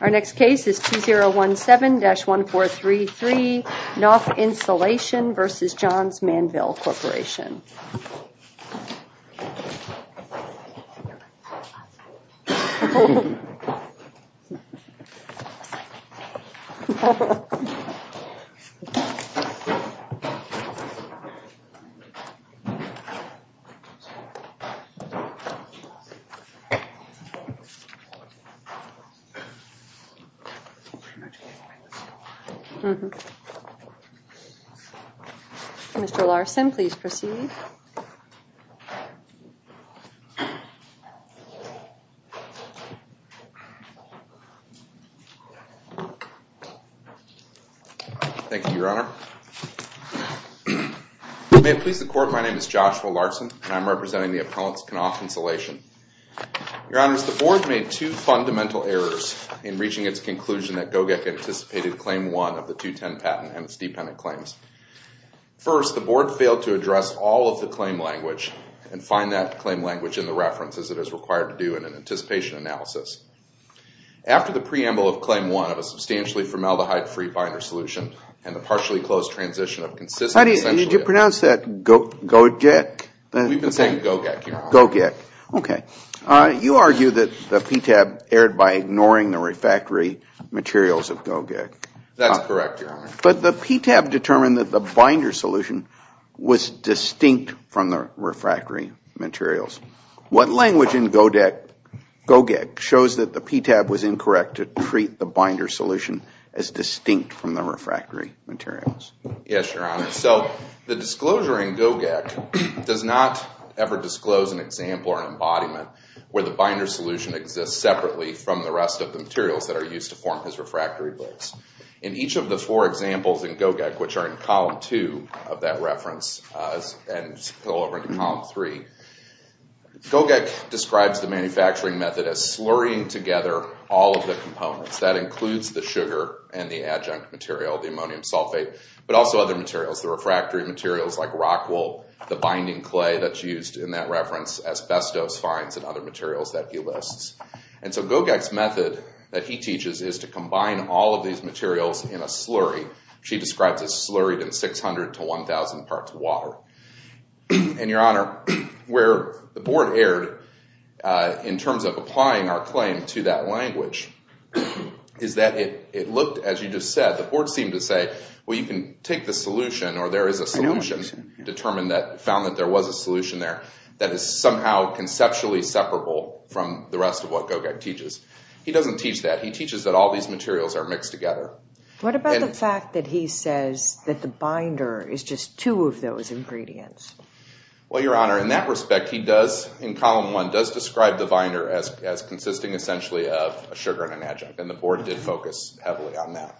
Our next case is 2017-1433, Knauf Insulation v. Johns Manville Corporation. Mr. Larson, please proceed. Thank you, Your Honor. May it please the Court, my name is Joshua Larson, and I'm representing the appellants, Knauf Insulation. Your Honors, the Board made two fundamental errors in reaching its conclusion that GOGEC anticipated Claim 1 of the 210 patent and its dependent claims. First, the Board failed to address all of the claim language and find that claim language in the references it is required to do in an anticipation analysis. After the preamble of Claim 1 of a substantially formaldehyde-free binder solution and the partially-closed transition of consistent... Did you pronounce that GOGEC? We've been saying GOGEC, Your Honor. GOGEC. Okay. You argue that the PTAB erred by ignoring the refractory materials of GOGEC. That's correct, Your Honor. But the PTAB determined that the binder solution was distinct from the refractory materials. What language in GOGEC shows that the PTAB was incorrect to treat the binder solution as distinct from the refractory materials? Yes, Your Honor. So the disclosure in GOGEC does not ever disclose an example or an embodiment where the binder solution exists separately from the rest of the materials that are used to form his refractory blades. In each of the four examples in GOGEC, which are in Column 2 of that reference and go over to Column 3, GOGEC describes the manufacturing method as slurrying together all of the components. That includes the sugar and the adjunct material, the ammonium sulfate, but also other materials, the refractory materials like rockwool, the binding clay that's used in that reference, asbestos fines, and other materials that he lists. And so GOGEC's method that he teaches is to combine all of these materials in a slurry. She describes it as slurried in 600 to 1,000 parts water. And, Your Honor, where the board erred in terms of applying our claim to that language is that it looked, as you just said, the board seemed to say, well, you can take the solution or there is a solution determined that found that there was a solution there that is somehow conceptually separable from the rest of what GOGEC teaches. He doesn't teach that. He teaches that all these materials are mixed together. What about the fact that he says that the binder is just two of those ingredients? Well, Your Honor, in that respect, he does, in Column 1, does describe the binder as consisting essentially of a sugar and an adjunct, and the board did focus heavily on that.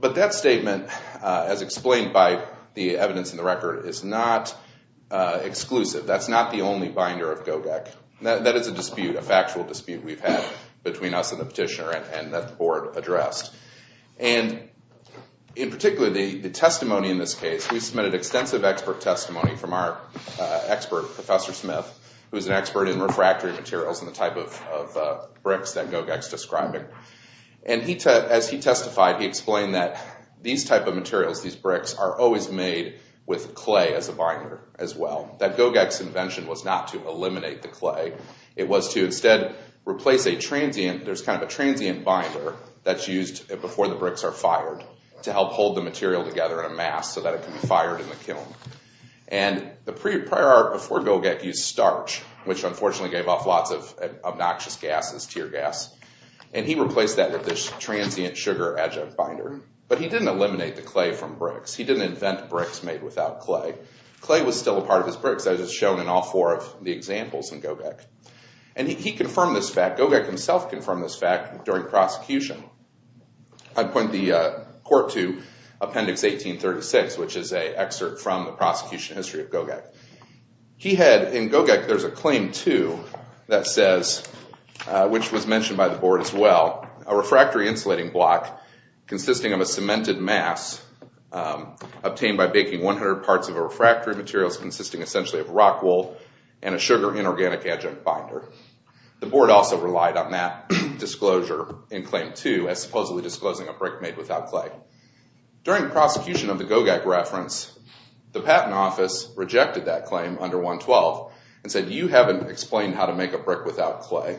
But that statement, as explained by the evidence in the record, is not exclusive. That's not the only binder of GOGEC. That is a dispute, a factual dispute we've had between us and the petitioner and that the board addressed. And in particular, the testimony in this case, we submitted extensive expert testimony from our expert, Professor Smith, who is an expert in refractory materials and the type of bricks that GOGEC is describing. And as he testified, he explained that these type of materials, these bricks, are always made with clay as a binder as well. That GOGEC's invention was not to eliminate the clay. It was to instead replace a transient, there's kind of a transient binder that's used before the bricks are fired to help hold the material together in a mass so that it can be fired in the kiln. And the prior art before GOGEC used starch, which unfortunately gave off lots of obnoxious gases, tear gas. And he replaced that with this transient sugar adjunct binder. But he didn't eliminate the clay from bricks. He didn't invent bricks made without clay. Clay was still a part of his bricks as is shown in all four of the examples in GOGEC. And he confirmed this fact. GOGEC himself confirmed this fact during prosecution. I point the court to Appendix 1836, which is an excerpt from the prosecution history of GOGEC. He had, in GOGEC, there's a Claim 2 that says, which was mentioned by the board as well, a refractory insulating block consisting of a cemented mass obtained by baking 100 parts of refractory materials consisting essentially of rock wool and a sugar inorganic adjunct binder. The board also relied on that disclosure in Claim 2 as supposedly disclosing a brick made without clay. During the prosecution of the GOGEC reference, the Patent Office rejected that claim under 112 and said, you haven't explained how to make a brick without clay.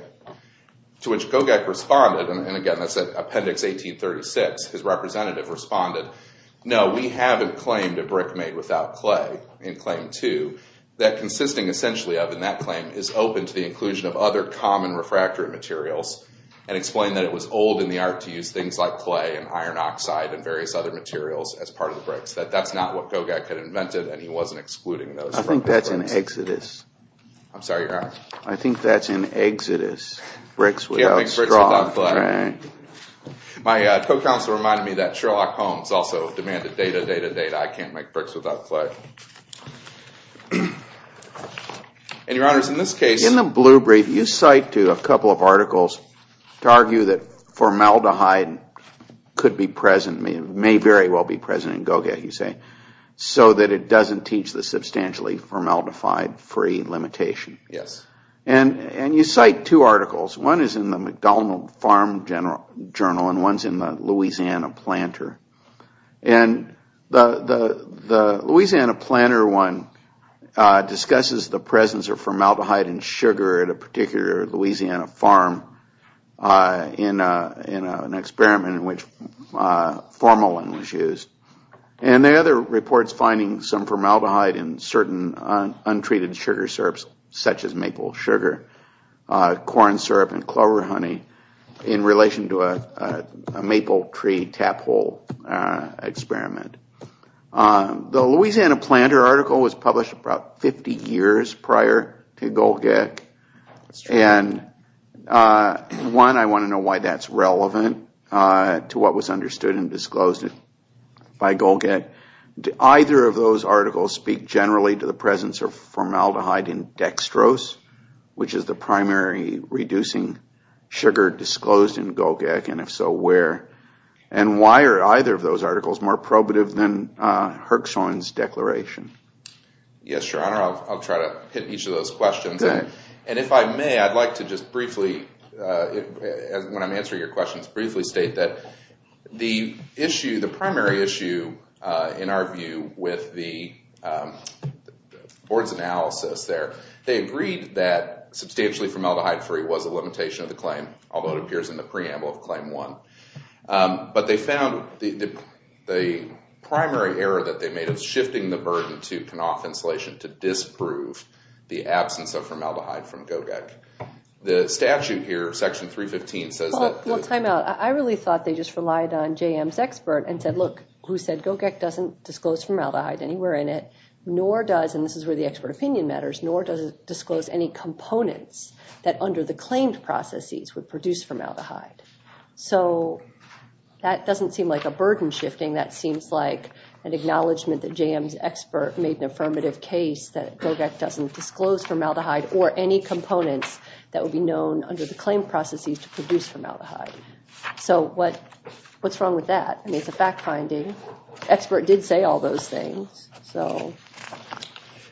To which GOGEC responded, and again that's Appendix 1836, his representative responded, no, we haven't claimed a brick made without clay in Claim 2. That consisting essentially of, in that claim, is open to the inclusion of other common refractory materials and explained that it was old in the art to use things like clay and iron oxide and various other materials as part of the bricks. That that's not what GOGEC had invented and he wasn't excluding those. I think that's an exodus. I'm sorry, your Honor? I think that's an exodus. Bricks without straw. Bricks without clay. My co-counsel reminded me that Sherlock Holmes also demanded data, data, data. I can't make bricks without clay. And your Honor, in this case... In the Blue Brief, you cite a couple of articles to argue that formaldehyde could be present, may very well be present in GOGEC, you say, so that it doesn't teach the substantially formaldehyde-free limitation. Yes. And you cite two articles. One is in the MacDonald Farm Journal and one's in the Louisiana Planter. And the Louisiana Planter one discusses the presence of formaldehyde in sugar at a particular Louisiana farm in an experiment in which formalin was used. And the other reports finding some formaldehyde in certain untreated sugar syrups, such as maple sugar, corn syrup, and clover honey, in relation to a maple tree tap hole experiment. The Louisiana Planter article was published about 50 years prior to GOGEC. And one, I want to know why that's relevant to what was understood and disclosed by GOGEC. Do either of those articles speak generally to the presence of formaldehyde in dextrose, which is the primary reducing sugar disclosed in GOGEC, and if so, where? And why are either of those articles more probative than Herxhohn's declaration? Yes, Your Honor, I'll try to hit each of those questions. And if I may, I'd like to just briefly, when I'm answering your questions, briefly state that the primary issue, in our view, with the board's analysis there, they agreed that substantially formaldehyde-free was a limitation of the claim, although it appears in the preamble of Claim 1. But they found the primary error that they made was shifting the burden to Kanoff Insulation to disprove the absence of formaldehyde from GOGEC. The statute here, Section 315, says that... Well, time out. I really thought they just relied on JM's expert and said, look, who said GOGEC doesn't disclose formaldehyde anywhere in it, nor does, and this is where the expert opinion matters, nor does it disclose any components that under the claimed processes would produce formaldehyde. So that doesn't seem like a burden shifting. That seems like an acknowledgment that JM's expert made an affirmative case that GOGEC doesn't disclose formaldehyde or any components that would be known under the claimed processes to produce formaldehyde. So what's wrong with that? I mean, it's a fact-finding. The expert did say all those things, so...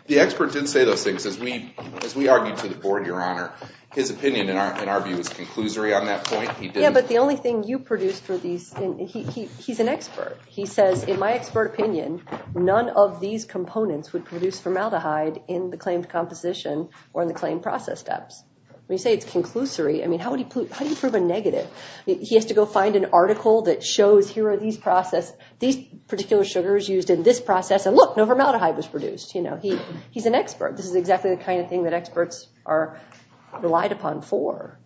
The expert did say those things. As we argued to the board, Your Honor, his opinion, in our view, is conclusory on that point. Yeah, but the only thing you produced were these... He's an expert. He says, in my expert opinion, none of these components would produce formaldehyde in the claimed composition or in the claimed process steps. When you say it's conclusory, I mean, how do you prove a negative? He has to go find an article that shows, here are these particular sugars used in this process, and look, no formaldehyde was produced. He's an expert. This is exactly the kind of thing that experts are relied upon for.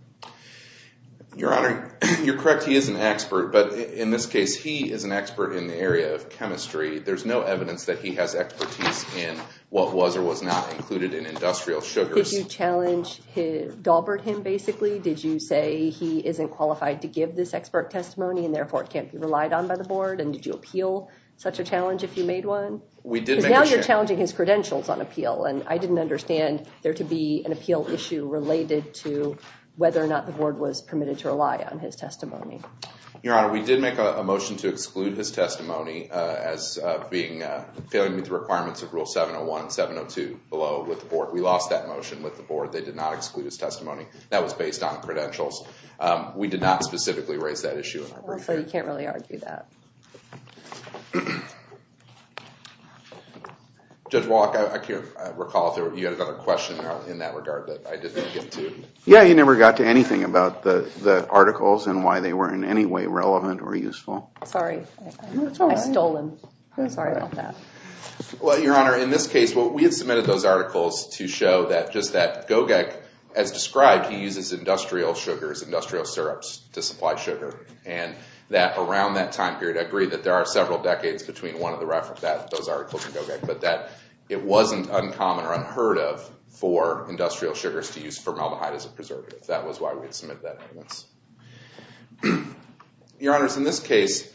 Your Honor, you're correct. He is an expert. But in this case, he is an expert in the area of chemistry. There's no evidence that he has expertise in what was or was not included in industrial sugars. Did you challenge...dalbert him, basically? Did you say he isn't qualified to give this expert testimony and therefore it can't be relied on by the board? And did you appeal such a challenge if you made one? Because now you're challenging his credentials on appeal, and I didn't understand there to be an appeal issue related to whether or not the board was permitted to rely on his testimony. Your Honor, we did make a motion to exclude his testimony as failing to meet the requirements of Rule 701 and 702 below with the board. We lost that motion with the board. They did not exclude his testimony. That was based on credentials. We did not specifically raise that issue in our brief. So you can't really argue that. Judge Walk, I can't recall if you had another question in that regard that I didn't get to. Yeah, he never got to anything about the articles and why they were in any way relevant or useful. Sorry. I stole him. Sorry about that. Well, Your Honor, in this case, we had submitted those articles to show that just that Gogek, as described, he uses industrial sugars, industrial syrups to supply sugar. And that around that time period, I agree that there are several decades between one of those articles and Gogek, but that it wasn't uncommon or unheard of for industrial sugars to use formaldehyde as a preservative. That was why we had submitted that. Your Honors, in this case,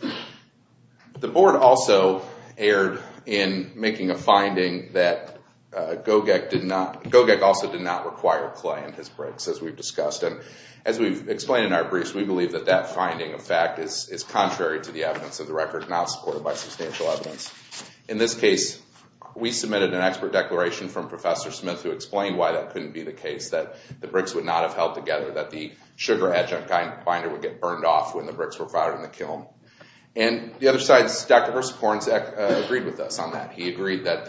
the board also erred in making a finding that Gogek also did not require clay in his bricks, as we've discussed. And as we've explained in our briefs, we believe that that finding, in fact, is contrary to the evidence of the record, not supported by substantial evidence. In this case, we submitted an expert declaration from Professor Smith who explained why that couldn't be the case, that the bricks would not have held together, that the sugar adjunct binder would get burned off when the bricks were fired in the kiln. And the other side, Dr. Versa-Porensek agreed with us on that. He agreed that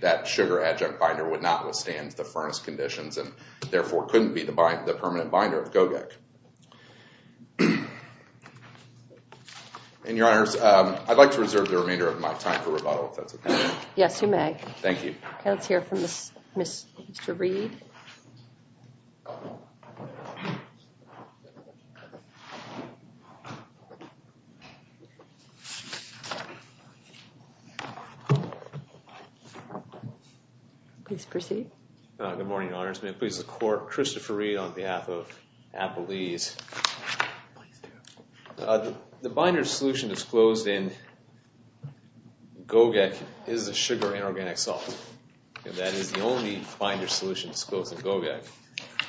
that sugar adjunct binder would not withstand the furnace conditions and therefore couldn't be the permanent binder of Gogek. Your Honors, I'd like to reserve the remainder of my time for rebuttal, if that's okay. Yes, you may. Thank you. Let's hear from Mr. Reed. Please proceed. Good morning, Your Honors. May it please the Court, Christopher Reed on behalf of Appalese. The binder solution disclosed in Gogek is a sugar inorganic salt. That is the only binder solution disclosed in Gogek.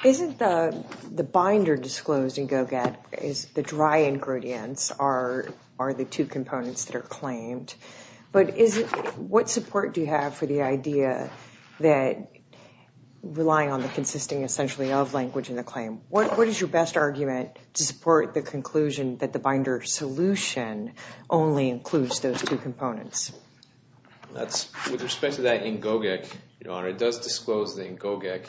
Isn't the binder disclosed in Gogek is the dry ingredients are the two components that are claimed? But what support do you have for the idea that relying on the consisting essentially of language in the claim? What is your best argument to support the conclusion that the binder solution only includes those two components? With respect to that in Gogek, Your Honor, it does disclose in Gogek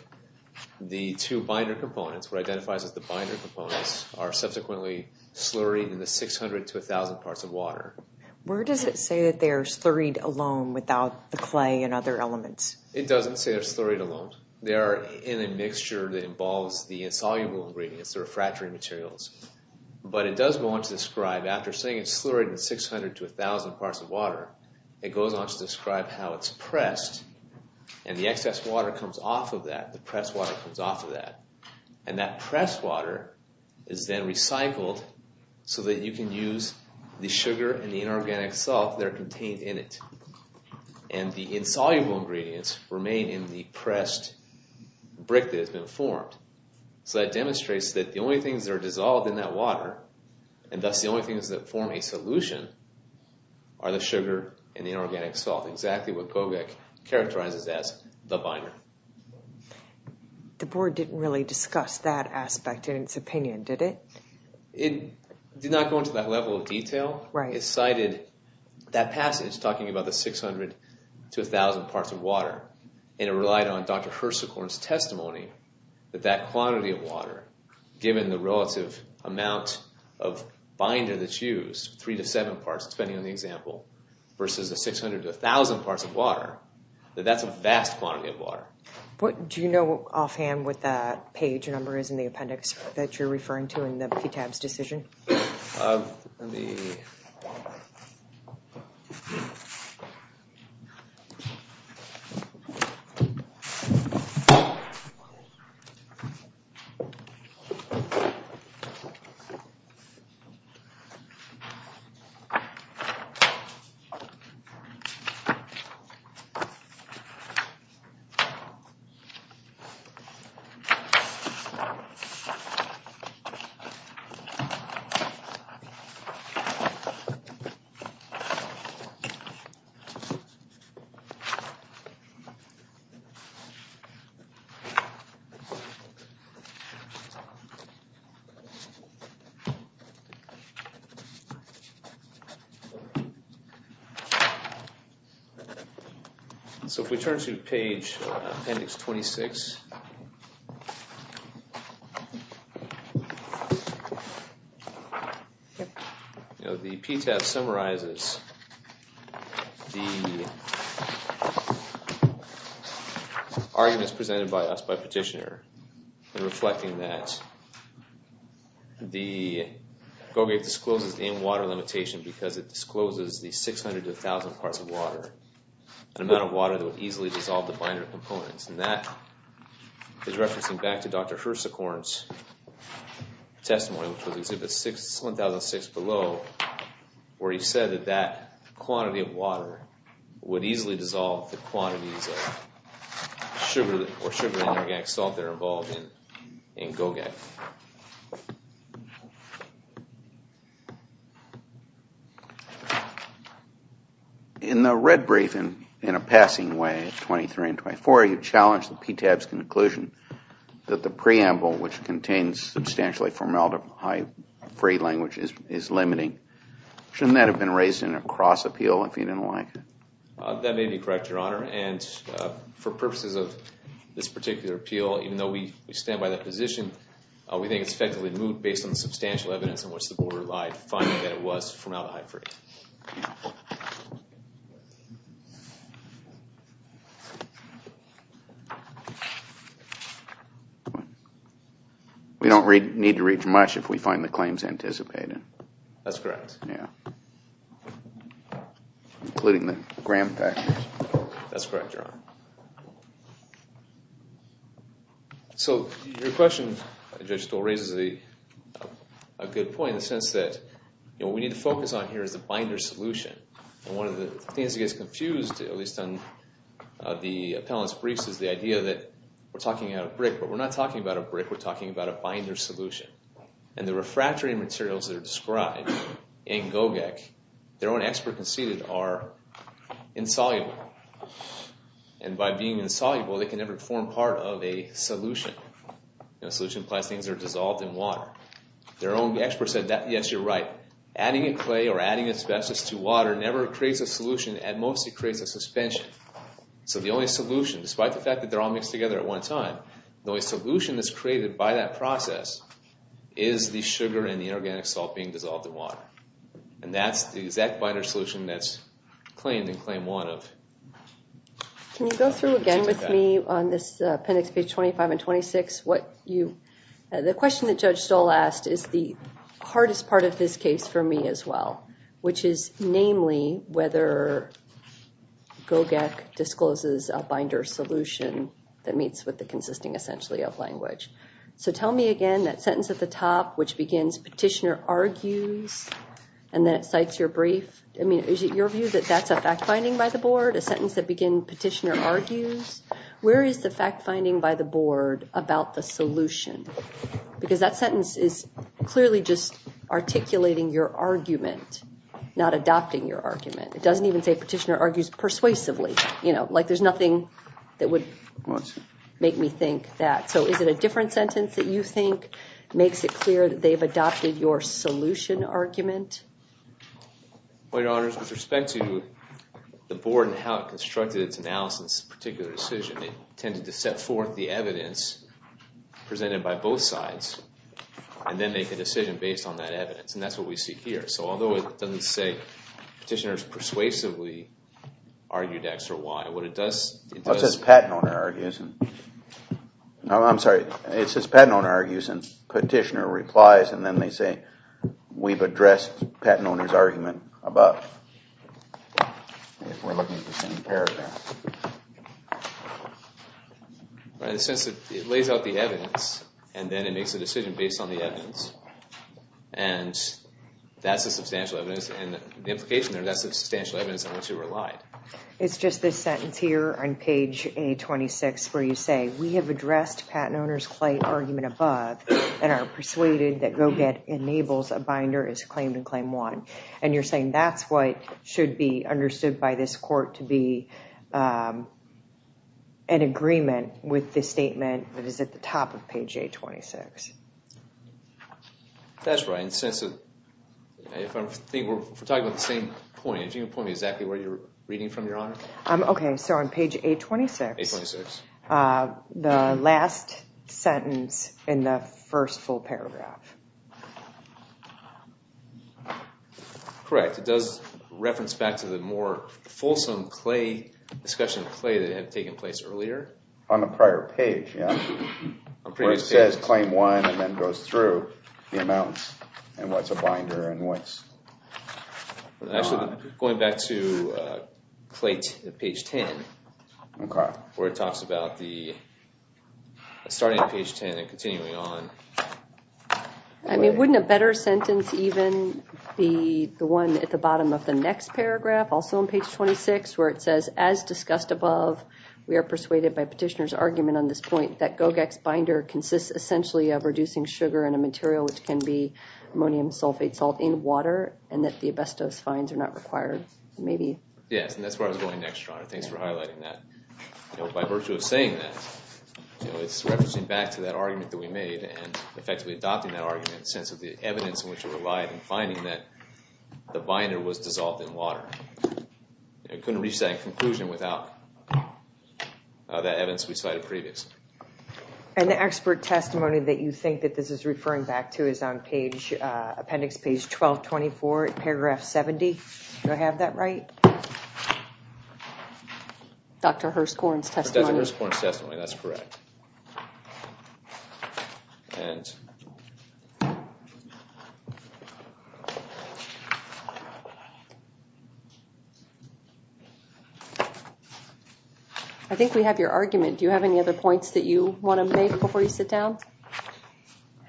the two binder components. What identifies as the binder components are subsequently slurry in the 600 to 1,000 parts of water. Where does it say that they are slurried alone without the clay and other elements? It doesn't say they're slurried alone. They are in a mixture that involves the insoluble ingredients, the refractory materials. But it does go on to describe, after saying it's slurried in 600 to 1,000 parts of water, it goes on to describe how it's pressed. And the excess water comes off of that. The pressed water comes off of that. And that pressed water is then recycled so that you can use the sugar and the inorganic salt that are contained in it. And the insoluble ingredients remain in the pressed brick that has been formed. So that demonstrates that the only things that are dissolved in that water, and thus the only things that form a solution, are the sugar and the inorganic salt, exactly what Gogek characterizes as the binder. The board didn't really discuss that aspect in its opinion, did it? It did not go into that level of detail. Right. It cited that passage talking about the 600 to 1,000 parts of water. And it relied on Dr. Hirsikorn's testimony that that quantity of water, given the relative amount of binder that's used, three to seven parts, depending on the example, versus the 600 to 1,000 parts of water, that that's a vast quantity of water. Do you know offhand what that page number is in the appendix that you're referring to in the PTAB's decision? Okay. So if we turn to page appendix 26, the PTAB summarizes the arguments presented by us by Petitioner in reflecting that Gogek discloses the in-water limitation because it discloses the 600 to 1,000 parts of water, an amount of water that would easily dissolve the binder components. And that is referencing back to Dr. Hirsikorn's testimony, which was Exhibit 1006 below, where he said that that quantity of water would easily dissolve the quantities of sugar or sugar and inorganic salt that are involved in Gogek. In the red brief in a passing way, 23 and 24, you challenged the PTAB's conclusion that the preamble, which contains substantially formaldehyde-free language, is limiting. Shouldn't that have been raised in a cross appeal if you didn't like it? That may be correct, Your Honor. And for purposes of this particular appeal, even though we stand by that position, we think it's effectively moved based on the substantial evidence on which the board relied, finding that it was formaldehyde-free. We don't need to read too much if we find the claims anticipated. That's correct. Including the Graham package. That's correct, Your Honor. So your question, Judge Stoll, raises a good point in the sense that what we need to focus on here is the binder solution. And one of the things that gets confused, at least on the appellant's briefs, is the idea that we're talking about a brick, but we're not talking about a brick. We're talking about a binder solution. And the refractory materials that are described in GOGEC, their own expert conceded, are insoluble. And by being insoluble, they can never form part of a solution. A solution implies things are dissolved in water. Their own expert said, yes, you're right. Adding a clay or adding asbestos to water never creates a solution. At most, it creates a suspension. So the only solution, despite the fact that they're all mixed together at one time, the only solution that's created by that process is the sugar and the inorganic salt being dissolved in water. And that's the exact binder solution that's claimed in Claim 1. Can you go through again with me on this appendix, page 25 and 26? The question that Judge Stoll asked is the hardest part of this case for me as well, which is namely whether GOGEC discloses a binder solution that meets with the consisting, essentially, of language. So tell me again that sentence at the top, which begins, Petitioner argues, and then it cites your brief. I mean, is it your view that that's a fact-finding by the board, a sentence that begins, Petitioner argues? Where is the fact-finding by the board about the solution? Because that sentence is clearly just articulating your argument, not adopting your argument. It doesn't even say, Petitioner argues persuasively. You know, like there's nothing that would make me think that. So is it a different sentence that you think makes it clear that they've adopted your solution argument? Well, Your Honors, with respect to the board and how it constructed its analysis of a particular decision, it tended to set forth the evidence presented by both sides and then make a decision based on that evidence. And that's what we see here. So although it doesn't say, Petitioner's persuasively argued X or Y, what it does— It says, Patent Owner argues. No, I'm sorry. It says, Patent Owner argues, and Petitioner replies, and then they say, We've addressed Patent Owner's argument above, if we're looking at the same paragraph. In the sense that it lays out the evidence, and then it makes a decision based on the evidence, and that's the substantial evidence, and the implication there, that's the substantial evidence on which it relied. It's just this sentence here on page A26 where you say, We have addressed Patent Owner's argument above and are persuaded that GO-GET enables a binder as claim to claim one. And you're saying that's what should be understood by this court to be an agreement with the statement that is at the top of page A26. That's right. And since we're talking about the same point, can you point me exactly where you're reading from, Your Honor? Okay. So on page A26, the last sentence in the first full paragraph. Correct. It does reference back to the more fulsome discussion of Clay that had taken place earlier. On the prior page, yeah. Where it says claim one and then goes through the amounts and what's a binder and what's not. Actually, going back to Clay at page 10. Okay. Where it talks about the starting at page 10 and continuing on. I mean, wouldn't a better sentence even be the one at the bottom of the next paragraph, also on page 26, where it says, As discussed above, we are persuaded by Petitioner's argument on this point that GO-GET's binder consists essentially of reducing sugar and a material which can be ammonium sulfate salt in water and that the asbestos fines are not required. Maybe. Yes, and that's where I was going next, Your Honor. Thanks for highlighting that. By virtue of saying that, it's referencing back to that argument that we made and effectively adopting that argument in the sense of the evidence in which it relied in finding that the binder was dissolved in water. It couldn't reach that conclusion without that evidence we cited previously. And the expert testimony that you think that this is referring back to is on appendix page 1224, paragraph 70. Do I have that right? Dr. Hirschhorn's testimony. Dr. Hirschhorn's testimony. That's correct. I think we have your argument. Do you have any other points that you want to make before you sit down?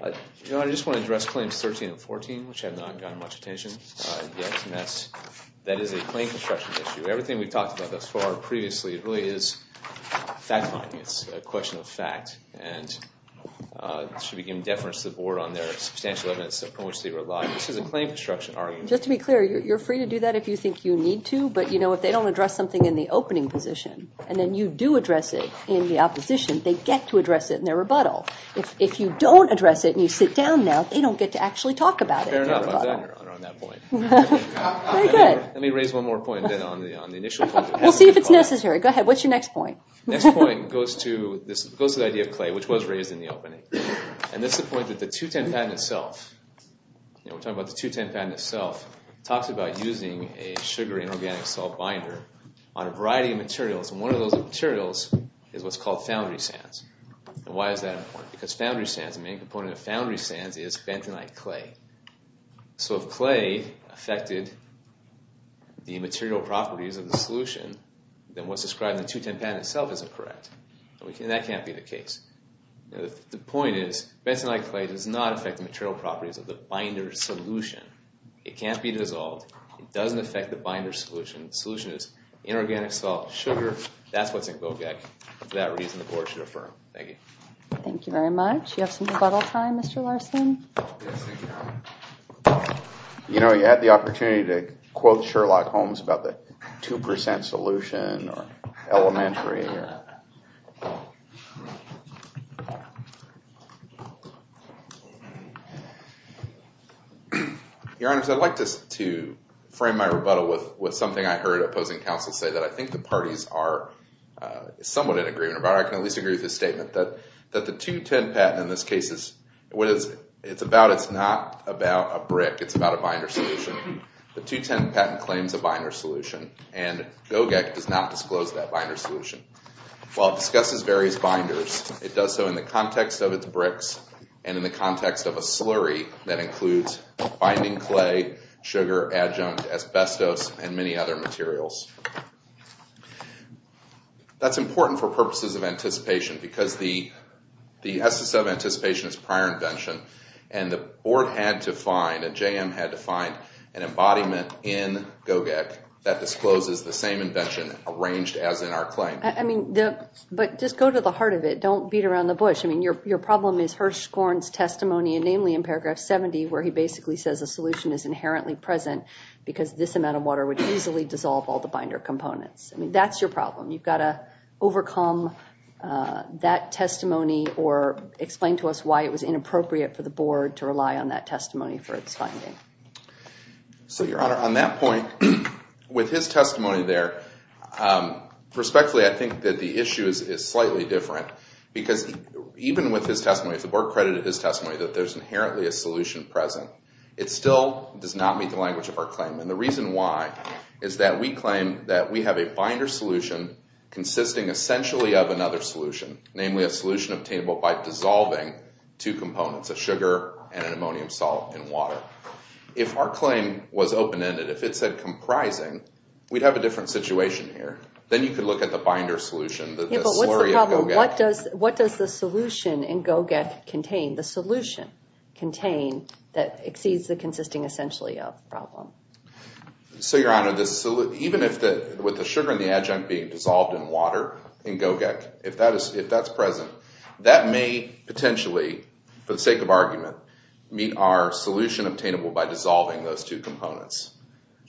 Your Honor, I just want to address claims 13 and 14, which have not gotten much attention yet, and that is a claim construction issue. Everything we've talked about thus far previously really is fact-finding. It's a question of fact, and it should be given deference to the Board on their substantial evidence in which they relied. This is a claim construction argument. Just to be clear, you're free to do that if you think you need to, but, you know, if they don't address something in the opening position, and then you do address it in the opposition, they get to address it in their rebuttal. If you don't address it and you sit down now, they don't get to actually talk about it in their rebuttal. Fair enough. I'm done, Your Honor, on that point. Very good. Let me raise one more point on the initial point. We'll see if it's necessary. Go ahead. What's your next point? Next point goes to the idea of clay, which was raised in the opening, and that's the point that the 210 patent itself, you know, we're talking about the 210 patent itself, talks about using a sugar inorganic salt binder on a variety of materials, and one of those materials is what's called foundry sands. And why is that important? Because foundry sands, the main component of foundry sands is bentonite clay. So if clay affected the material properties of the solution, then what's described in the 210 patent itself isn't correct, and that can't be the case. The point is bentonite clay does not affect the material properties of the binder solution. It can't be dissolved. It doesn't affect the binder solution. The solution is inorganic salt, sugar. That's what's in GOGEC. For that reason, the board should affirm. Thank you. Thank you very much. Do you have some rebuttal time, Mr. Larson? Yes, thank you, Your Honor. You know, you had the opportunity to quote Sherlock Holmes about the 2% solution or elementary. Your Honor, I'd like to frame my rebuttal with something I heard opposing counsel say that I think the parties are somewhat in agreement about. I can at least agree with his statement that the 210 patent, in this case, it's not about a brick. It's about a binder solution. The 210 patent claims a binder solution, and GOGEC does not disclose that binder solution. While it discusses various binders, it does so in the context of its bricks and in the context of a slurry that includes binding clay, sugar, adjunct, asbestos, and many other materials. That's important for purposes of anticipation because the SSO of anticipation is prior invention, and the board had to find, and JM had to find, an embodiment in GOGEC that discloses the same invention arranged as in our claim. I mean, but just go to the heart of it. Don't beat around the bush. I mean, your problem is Hirschhorn's testimony, namely in paragraph 70, where he basically says a solution is inherently present because this amount of water would easily dissolve all the binder components. I mean, that's your problem. You've got to overcome that testimony or explain to us why it was inappropriate for the board to rely on that testimony for its finding. So, Your Honor, on that point, with his testimony there, respectfully, I think that the issue is slightly different because even with his testimony, if the board credited his testimony that there's inherently a solution present, it still does not meet the language of our claim. And the reason why is that we claim that we have a binder solution consisting essentially of another solution, namely a solution obtainable by dissolving two components, a sugar and an ammonium salt in water. Now, if our claim was open-ended, if it said comprising, we'd have a different situation here. Then you could look at the binder solution, the slurry of GOGEC. But what's the problem? What does the solution in GOGEC contain, the solution contain that exceeds the consisting essentially of problem? So, Your Honor, even with the sugar and the adjunct being dissolved in water in GOGEC, if that's present, that may potentially, for the sake of argument, meet our solution obtainable by dissolving those two components.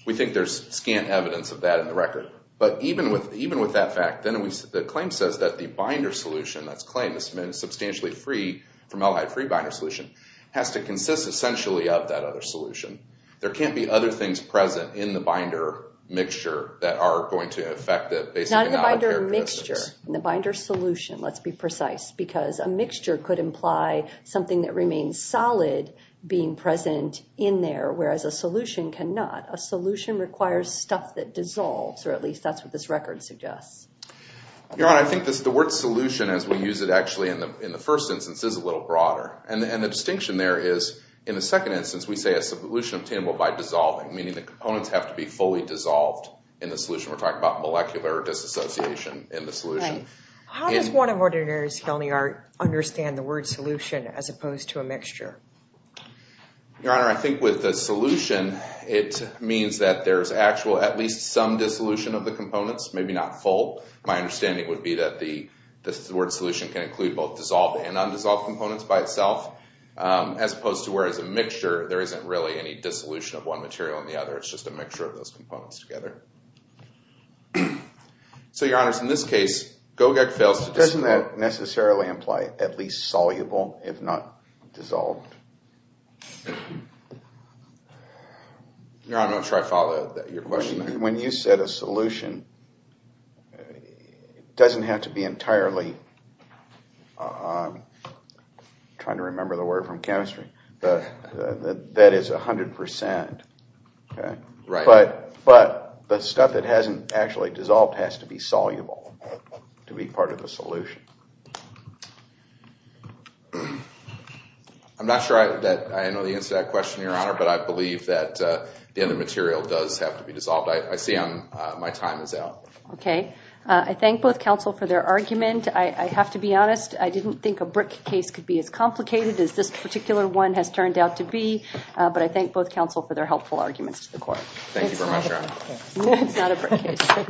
We think there's scant evidence of that in the record. But even with that fact, then the claim says that the binder solution, that's claimed to be substantially free from allied free binder solution, has to consist essentially of that other solution. There can't be other things present in the binder mixture that are going to affect the basic knowledge characteristics. In the binder solution, let's be precise, because a mixture could imply something that remains solid being present in there, whereas a solution cannot. A solution requires stuff that dissolves, or at least that's what this record suggests. Your Honor, I think the word solution, as we use it actually in the first instance, is a little broader. And the distinction there is, in the second instance, we say it's a solution obtainable by dissolving, meaning the components have to be fully dissolved in the solution. We're talking about molecular disassociation in the solution. Right. How does one of Ordinary's felony art understand the word solution as opposed to a mixture? Your Honor, I think with the solution, it means that there's actual at least some dissolution of the components, maybe not full. My understanding would be that the word solution can include both dissolved and undissolved components by itself, as opposed to where, as a mixture, there isn't really any dissolution of one material and the other. It's just a mixture of those components together. So, Your Honor, in this case, GOGEC fails to disclose. Doesn't that necessarily imply at least soluble, if not dissolved? Your Honor, I'm not sure I follow your question. When you said a solution, it doesn't have to be entirely, I'm trying to remember the word from chemistry, that is 100%. Right. But the stuff that hasn't actually dissolved has to be soluble to be part of the solution. I'm not sure that I know the answer to that question, Your Honor, but I believe that the other material does have to be dissolved. I see my time is out. Okay. I thank both counsel for their argument. I have to be honest, I didn't think a BRIC case could be as complicated as this particular one has turned out to be, but I thank both counsel for their helpful arguments to the court. Thank you very much, Your Honor. It's not a BRIC case.